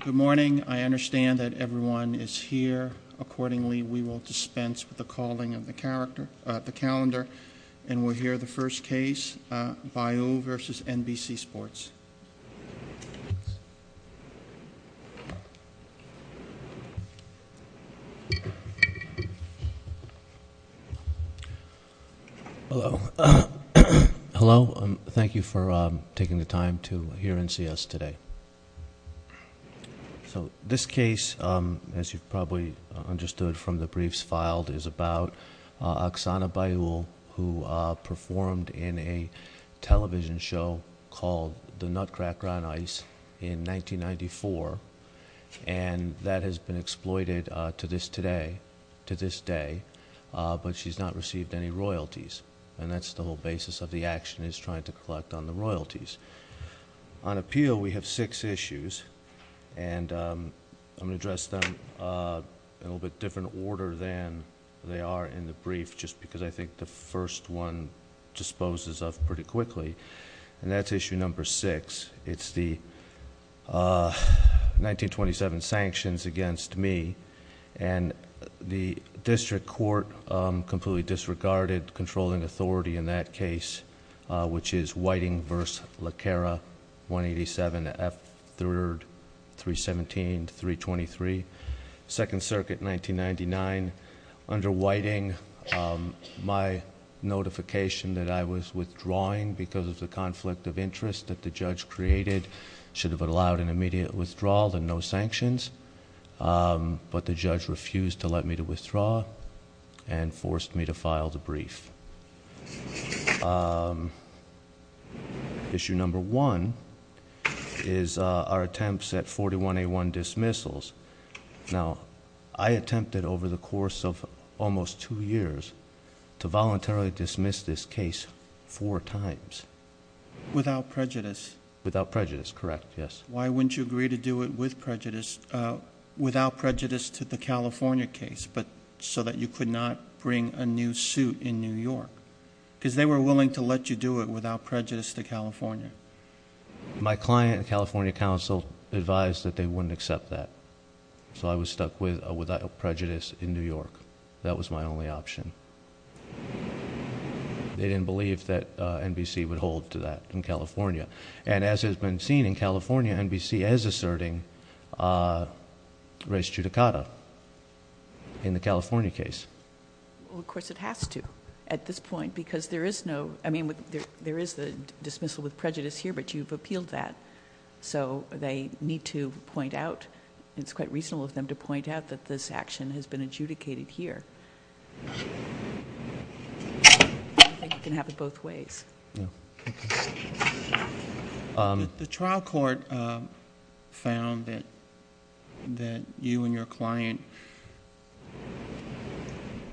Good morning. I understand that everyone is here accordingly. We will dispense with the calling of the calendar and we'll hear the first case, Bayou v. NBC Sports. Hello. Thank you for taking the time to hear and see us today. This case, as you probably understood from the briefs filed, is about Oksana Bayou, who performed in a television show called The Nutcracker on Ice in 1994. That has been exploited to this day, but she's not received any royalties. That's the whole basis of the action, is trying to collect on the royalties. On appeal, we have six issues. I'm going to address them in a little bit different order than they are in the brief, just because I think the first one disposes of pretty quickly. That's issue number six. It's the 1927 sanctions against me. The district court completely disregarded controlling authority in that case, which is Whiting v. Laquera, 187, F3, 317, 323, 2nd Circuit, 1999. Under Whiting, my notification that I was withdrawing because of the conflict of interest that the judge created should have allowed an immediate withdrawal and no sanctions, but the judge refused to let me withdraw and forced me to One is our attempts at 4181 dismissals. Now, I attempted over the course of almost two years to voluntarily dismiss this case four times. Without prejudice. Without prejudice, correct, yes. Why wouldn't you agree to do it without prejudice to the California case, so that you could not bring a new suit in New York? Because they were willing to let you do it without My client, the California counsel, advised that they wouldn't accept that, so I was stuck with without prejudice in New York. That was my only option. They didn't believe that NBC would hold to that in California, and as has been seen in California, NBC is asserting res judicata in the California case. Well, of course it has to at this point, because there is no, I mean, there is the dismissal with prejudice here, but you've appealed that, so they need to point out, it's quite reasonable of them to point out that this action has been adjudicated here. I think it can happen both ways. The trial court found that you and your client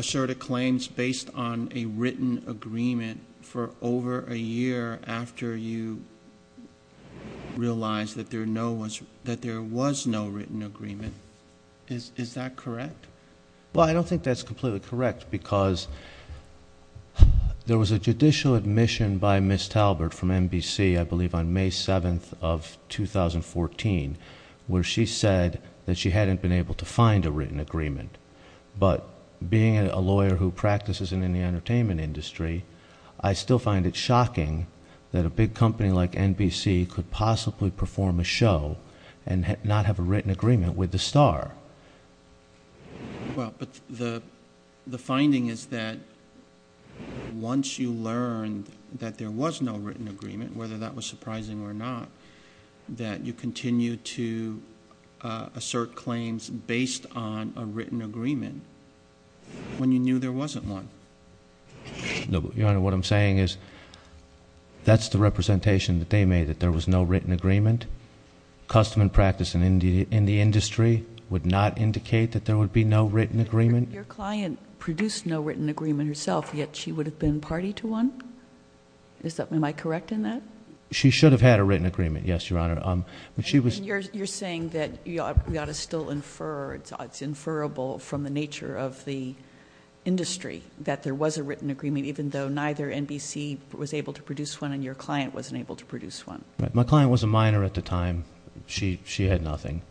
asserted claims based on a written agreement for over a year after you realized that there was no written agreement. Is that correct? Well, I don't think that's completely correct, because there was a judicial admission by Ms. Talbert from NBC, I believe on May 7th of 2014, where she said that she hadn't been able to find a written agreement, but being a lawyer who practices in the entertainment industry, I still find it shocking that a big company like NBC could possibly perform a show and not have a written agreement with the star. Well, but the finding is that once you learned that there was no written agreement, whether that was surprising or not, that you continued to assert claims based on a written agreement when you knew there wasn't one. No, Your Honor, what I'm saying is that's the representation that they made, that there was no written agreement. Custom and practice in the industry would not indicate that there would be no written agreement. Your client produced no written agreement herself, yet she would have been party to one? Am I correct in that? She should have had a written agreement, yes, Your Honor. You're saying that we ought to still infer, it's inferrable from the nature of the industry that there was a written agreement, even though neither NBC was able to produce one and your client wasn't able to produce one? My client was a minor at the time. She had nothing.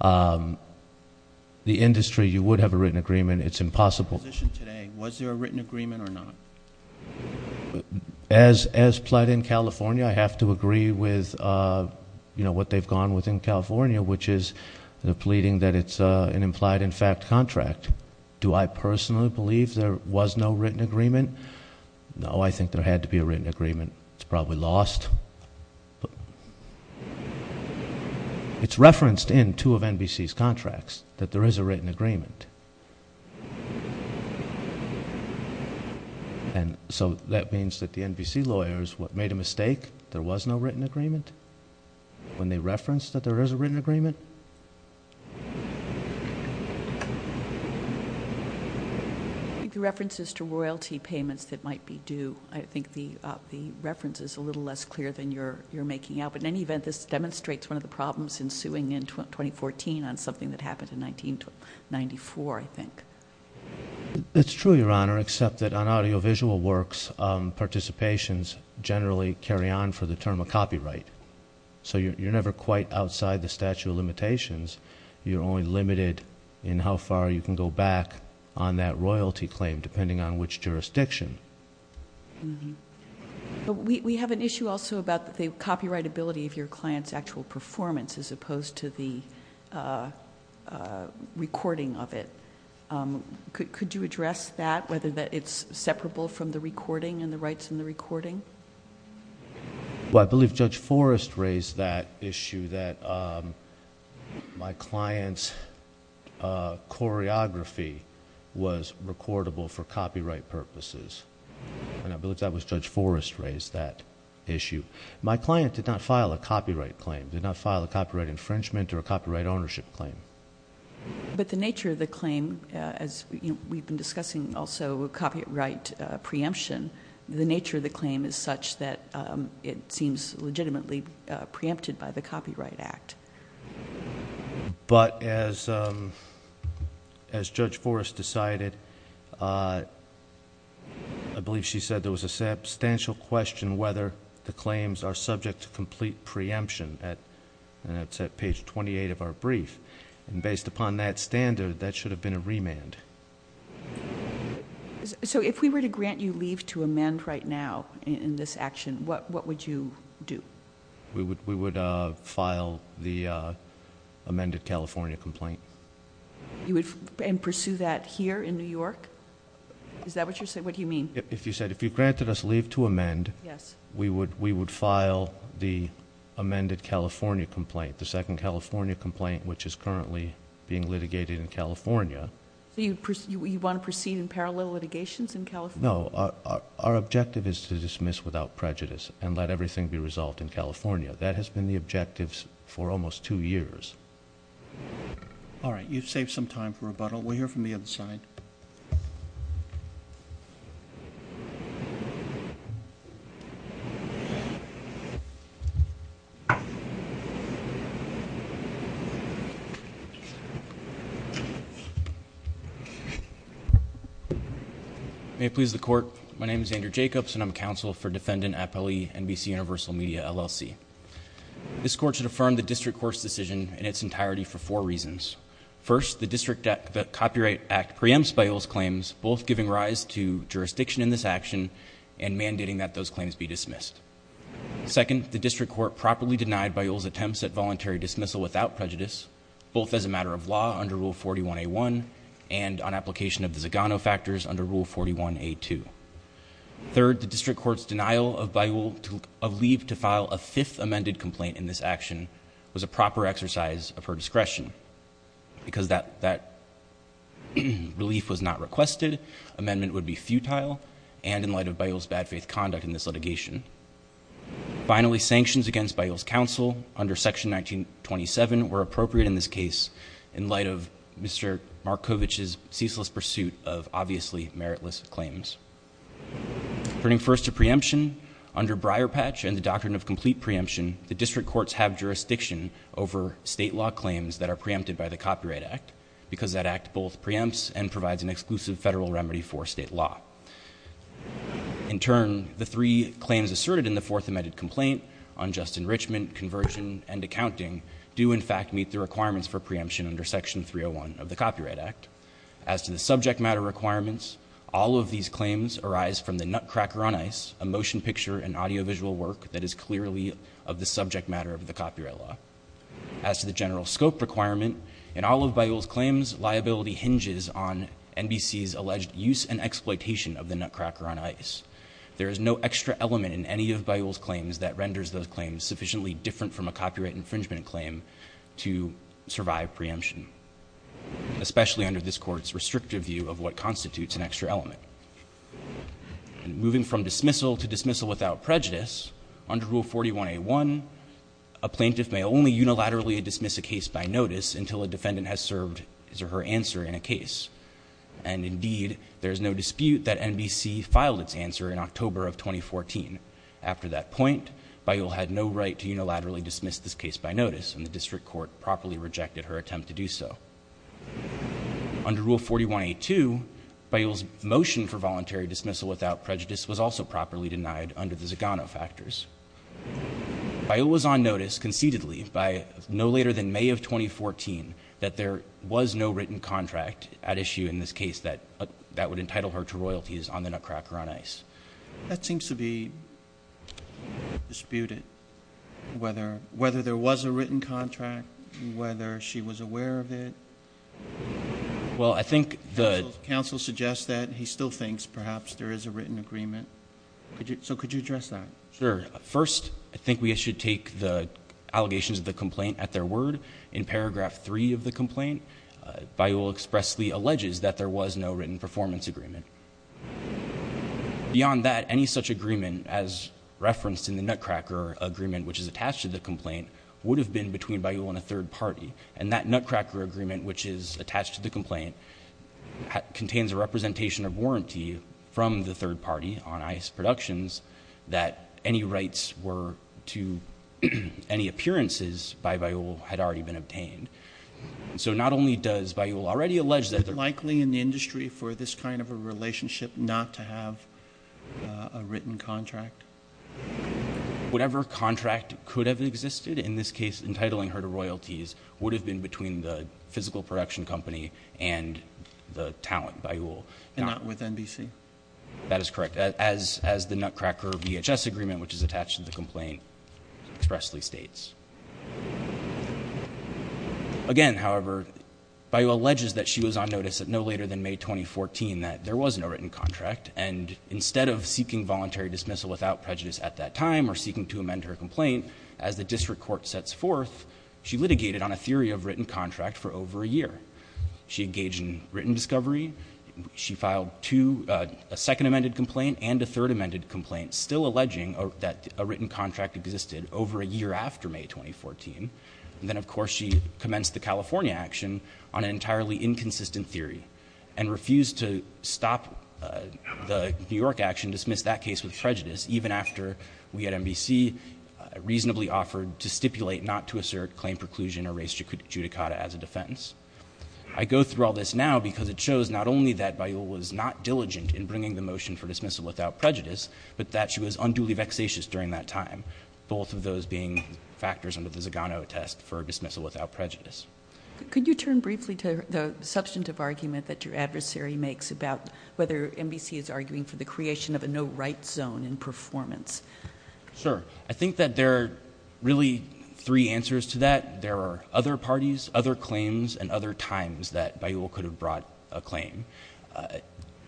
The industry, you would have a written agreement. It's impossible... In your position today, was there a written agreement or not? As pled in California, I have to agree with what they've gone with in California, which is the pleading that it's an implied-in-fact contract. Do I personally believe there was no written agreement? No, I think there had to be a written agreement. It's probably lost. It's referenced in two of NBC's contracts that there is a written agreement. And so that means that the NBC lawyers made a mistake? There was no written agreement? When they referenced that there is a written agreement? The references to royalty payments that might be due, I think the reference is a little less clear than you're making out. But in any event, this demonstrates one of the problems ensuing in 2014 on something that happened in 1994, I think. It's true, Your Honor, except that on audiovisual works, participations generally carry on for the term of copyright. So you're never quite outside the statute of limitations. You're only limited in how far you can go back on that royalty claim, depending on which jurisdiction. We have an issue also about the copyrightability of your client's actual performance, as opposed to the recording of it. Could you address that, whether it's separable from the recording and the rights in the recording? Well, I believe Judge Forrest raised that issue, that my client's choreography was recordable for copyright purposes. And I believe that was Judge Forrest who raised that issue. My client did not file a copyright claim, did not file a copyright infringement or a copyright ownership claim. But the nature of the claim, as we've been discussing also copyright preemption, the nature of the claim is such that it seems legitimately preempted by the Copyright Act. But as Judge Forrest decided, I believe she said there was a substantial question whether the claims are subject to complete preemption, and that's at page twenty-eight of our brief. Based upon that standard, that should have been a remand. So if we were to grant you leave to amend right now in this action, what would you do? We would file the amended California complaint. And pursue that here in New York? Is that what you're saying? What do you mean? If you said, if you granted us leave to amend, we would file the amended California complaint, the second California complaint which is currently being litigated in California. So you want to proceed in parallel litigations in California? No. Our objective is to dismiss without prejudice and let everything be resolved in California. That has been the objective for almost two years. All right. You've saved some time for rebuttal. We'll hear from the other side. May it please the Court. My name is Andrew Jacobs, and I'm counsel for Defendant Appellee NBC Universal Media, LLC. This Court should affirm the District Court's decision in its entirety for four reasons. First, the District Copyright Act preempts Bayoulle's claims, both giving rise to jurisdiction in this action and mandating that those claims be dismissed. Second, the District Court properly denied Bayoulle's attempts at voluntary dismissal without prejudice, both as a matter of law under Rule 41A1 and on application of the Zagano factors under Rule 41A2. Third, the District Court's denial of Bayoulle of leave to file a fifth amended complaint in this action was a proper exercise of her discretion because that relief was not requested, amendment would be futile, and in light of Bayoulle's bad faith conduct in this litigation. Finally, sanctions against Bayoulle's counsel under Section 1927 were appropriate in this case in light of Mr. Markovich's ceaseless pursuit of obviously meritless claims. Turning first to preemption, under Briarpatch and the doctrine of complete preemption, the District Courts have jurisdiction over state law claims that are preempted by the Copyright Act because that act both preempts and provides an exclusive federal remedy for state law. In turn, the three claims asserted in the fourth amended complaint, unjust enrichment, conversion, and accounting, do in fact meet the requirements for preemption under Section 301 of the Copyright Act. As to the subject matter requirements, all of these claims arise from the nutcracker on ice, a motion picture and audiovisual work that is clearly of the subject matter of the copyright law. As to the general scope requirement, in all of Bayoulle's claims, liability hinges on NBC's alleged use and exploitation of the nutcracker on ice. There is no extra element in any of Bayoulle's claims that renders those claims sufficiently different from a copyright infringement claim to survive preemption, especially under this Court's restrictive view of what constitutes an extra element. Moving from dismissal to dismissal without prejudice, under Rule 41A1, a plaintiff may only unilaterally dismiss a case by notice until a defendant has served his or her answer in a case. And indeed, there is no dispute that NBC filed its answer in October of 2014. After that point, Bayoulle had no right to unilaterally dismiss this case by notice, and the District Court properly rejected her attempt to do so. Under Rule 41A2, Bayoulle's motion for voluntary dismissal without prejudice was also properly denied under the Zagano factors. Bayoulle was on notice concededly by no later than May of 2014 that there was no written contract at issue in this case that would entitle her to royalties on the nutcracker on ice. That seems to be disputed, whether there was a written contract, whether she was aware of it. Well, I think the… Counsel suggests that he still thinks perhaps there is a written agreement. So could you address that? Sure. First, I think we should take the allegations of the complaint at their word. In paragraph 3 of the complaint, Bayoulle expressly alleges that there was no written performance agreement. Beyond that, any such agreement as referenced in the nutcracker agreement, which is attached to the complaint, would have been between Bayoulle and a third party. And that nutcracker agreement, which is attached to the complaint, contains a representation of warranty from the third party on ice productions that any rights were to any appearances by Bayoulle had already been obtained. So not only does Bayoulle already allege that… Is it likely in the industry for this kind of a relationship not to have a written contract? Whatever contract could have existed, in this case entitling her to royalties, would have been between the physical production company and the talent, Bayoulle. And not with NBC? That is correct. As the nutcracker VHS agreement, which is attached to the complaint, expressly states. Again, however, Bayoulle alleges that she was on notice no later than May 2014 that there was no written contract. And instead of seeking voluntary dismissal without prejudice at that time or seeking to amend her complaint, as the district court sets forth, she litigated on a theory of written contract for over a year. She engaged in written discovery. She filed a second amended complaint and a third amended complaint, still alleging that a written contract existed over a year after May 2014. Then, of course, she commenced the California action on an entirely inconsistent theory and refused to stop the New York action, dismiss that case with prejudice, even after we at NBC reasonably offered to stipulate not to assert claim preclusion or race judicata as a defense. I go through all this now because it shows not only that Bayoulle was not diligent in bringing the motion for dismissal without prejudice, but that she was unduly vexatious during that time, both of those being factors under the Zagano test for dismissal without prejudice. Could you turn briefly to the substantive argument that your adversary makes about whether NBC is arguing for the creation of a no-write zone in performance? Sure. I think that there are really three answers to that. There are other parties, other claims, and other times that Bayoulle could have brought a claim,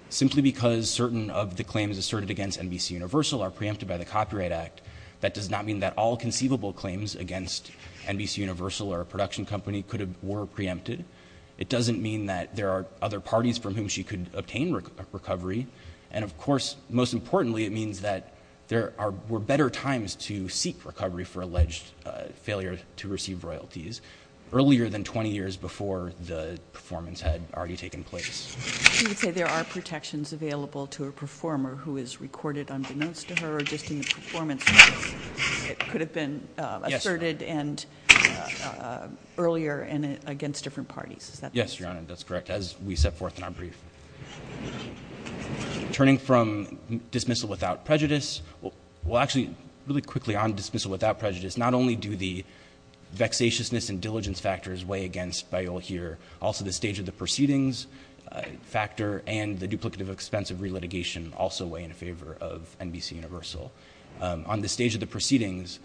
simply because certain of the claims asserted against NBC Universal are preempted by the Copyright Act That does not mean that all conceivable claims against NBC Universal or a production company were preempted. It doesn't mean that there are other parties from whom she could obtain recovery. And, of course, most importantly, it means that there were better times to seek recovery for alleged failure to receive royalties earlier than 20 years before the performance had already taken place. You would say there are protections available to a performer who is recorded unbeknownst to her or just in the performance. It could have been asserted earlier and against different parties. Yes, Your Honor, that's correct, as we set forth in our brief. Turning from dismissal without prejudice, well, actually, really quickly on dismissal without prejudice, not only do the vexatiousness and diligence factors weigh against Bayoulle here, also the stage of the proceedings factor and the duplicative expense of re-litigation also weigh in favor of NBC Universal. On the stage of the proceedings,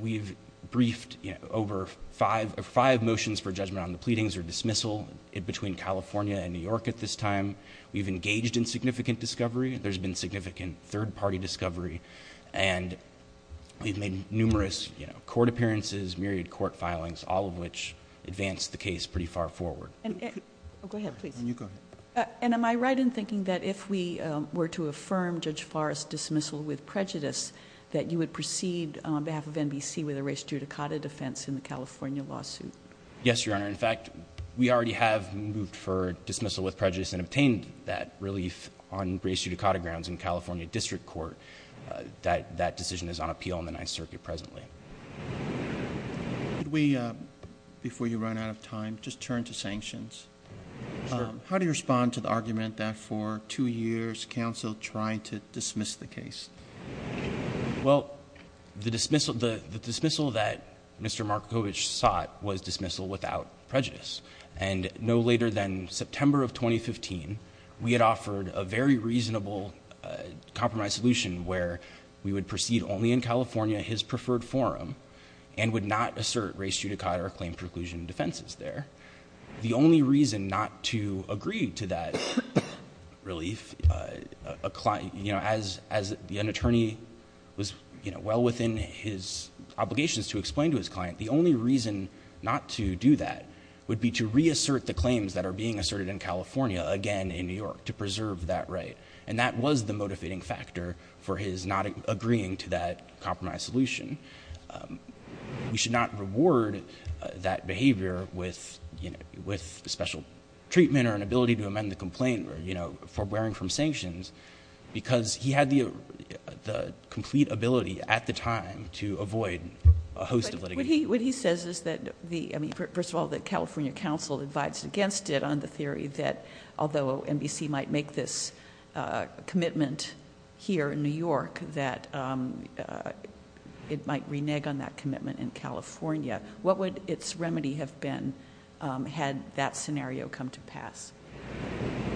we've briefed over five motions for judgment on the pleadings or dismissal between California and New York at this time. We've engaged in significant discovery. There's been significant third-party discovery. And we've made numerous court appearances, myriad court filings, all of which advance the case pretty far forward. Go ahead, please. And you go ahead. And am I right in thinking that if we were to affirm Judge Forrest's dismissal with prejudice, that you would proceed on behalf of NBC with a res judicata defense in the California lawsuit? Yes, Your Honor. In fact, we already have moved for dismissal with prejudice and obtained that relief on res judicata grounds in California District Court. That decision is on appeal in the Ninth Circuit presently. Before you run out of time, just turn to sanctions. How do you respond to the argument that for two years, counsel tried to dismiss the case? Well, the dismissal that Mr. Markovich sought was dismissal without prejudice. And no later than September of 2015, we had offered a very reasonable compromise solution where we would proceed only in California, his preferred forum, and would not assert res judicata or claim preclusion defenses there. The only reason not to agree to that relief, as an attorney was well within his obligations to explain to his client, the only reason not to do that would be to reassert the claims that are being asserted in California, again in New York, to preserve that right. And that was the motivating factor for his not agreeing to that compromise solution. We should not reward that behavior with special treatment or an ability to amend the complaint for bearing from sanctions, because he had the complete ability at the time to avoid a host of litigation. What he says is that, first of all, the California counsel advises against it on the theory that it might renege on that commitment in California. What would its remedy have been had that scenario come to pass?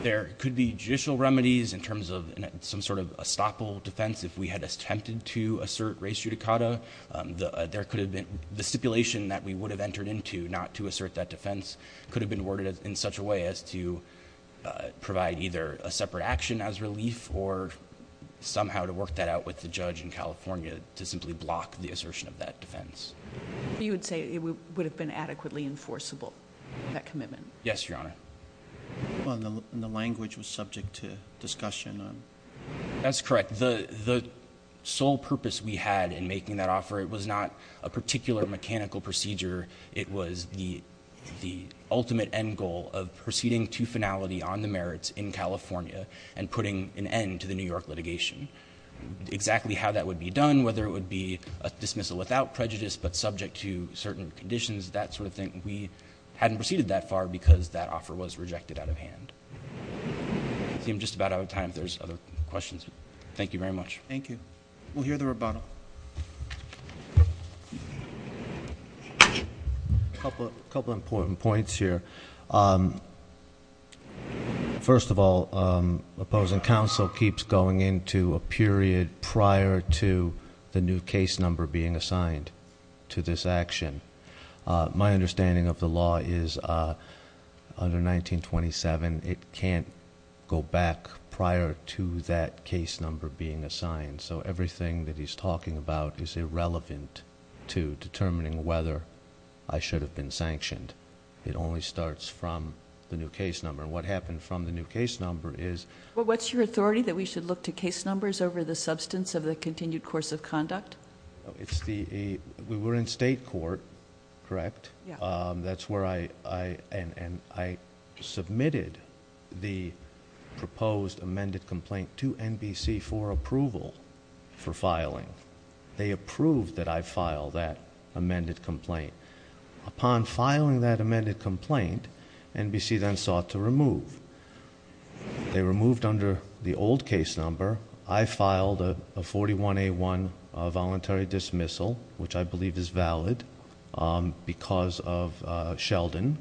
There could be judicial remedies in terms of some sort of estoppel defense if we had attempted to assert res judicata. The stipulation that we would have entered into not to assert that defense could have been worded in such a way as to provide either a separate action as relief or somehow to work that out with the judge in California to simply block the assertion of that defense. You would say it would have been adequately enforceable, that commitment? Yes, Your Honor. The language was subject to discussion. That's correct. The sole purpose we had in making that offer, it was not a particular mechanical procedure. It was the ultimate end goal of proceeding to finality on the merits in California and putting an end to the New York litigation. Exactly how that would be done, whether it would be a dismissal without prejudice but subject to certain conditions, that sort of thing, we hadn't proceeded that far because that offer was rejected out of hand. I'm just about out of time if there's other questions. Thank you very much. Thank you. We'll hear the rebuttal. A couple of important points here. First of all, opposing counsel keeps going into a period prior to the new case number being assigned to this action. My understanding of the law is under 1927, it can't go back prior to that case number being assigned. So everything that he's talking about is irrelevant to determining whether I should have been sanctioned. It only starts from the new case number. What happened from the new case number is... What's your authority that we should look to case numbers over the substance of the continued course of conduct? We were in state court, correct? Yeah. That's where I submitted the proposed amended complaint to NBC for approval for filing. They approved that I file that amended complaint. Upon filing that amended complaint, NBC then sought to remove. They removed under the old case number. I filed a 41A1 voluntary dismissal, which I believe is valid, because of Sheldon.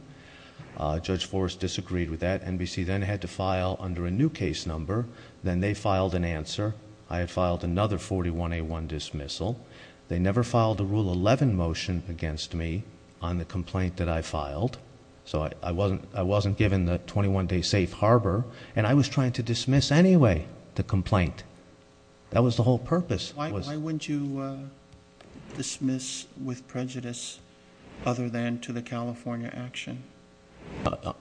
Judge Forrest disagreed with that. NBC then had to file under a new case number. Then they filed an answer. I had filed another 41A1 dismissal. They never filed a Rule 11 motion against me on the complaint that I filed. So I wasn't given the 21-day safe harbor, and I was trying to dismiss anyway the complaint. That was the whole purpose. Why wouldn't you dismiss with prejudice other than to the California action?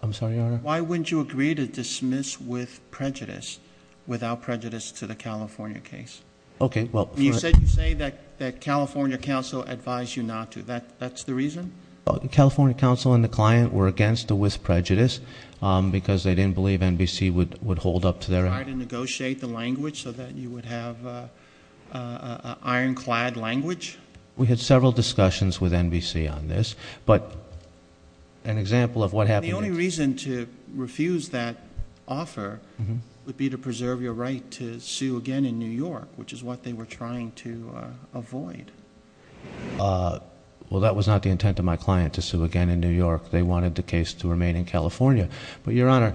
I'm sorry, Your Honor? Why wouldn't you agree to dismiss with prejudice without prejudice to the California case? Okay. You say that California counsel advised you not to. That's the reason? California counsel and the client were against it with prejudice because they didn't believe NBC would hold up to their act. You tried to negotiate the language so that you would have an ironclad language? We had several discussions with NBC on this. But an example of what happened next. The only reason to refuse that offer would be to preserve your right to sue again in New York. Which is what they were trying to avoid. Well, that was not the intent of my client, to sue again in New York. They wanted the case to remain in California. But, Your Honor,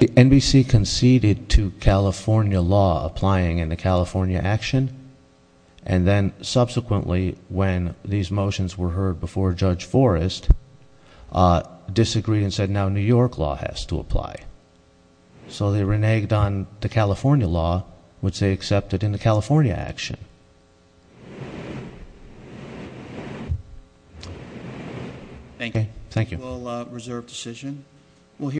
NBC conceded to California law applying in the California action. And then subsequently, when these motions were heard before Judge Forrest, disagreed and said now New York law has to apply. So they reneged on the California law, which they accepted in the California action. Thank you. Thank you.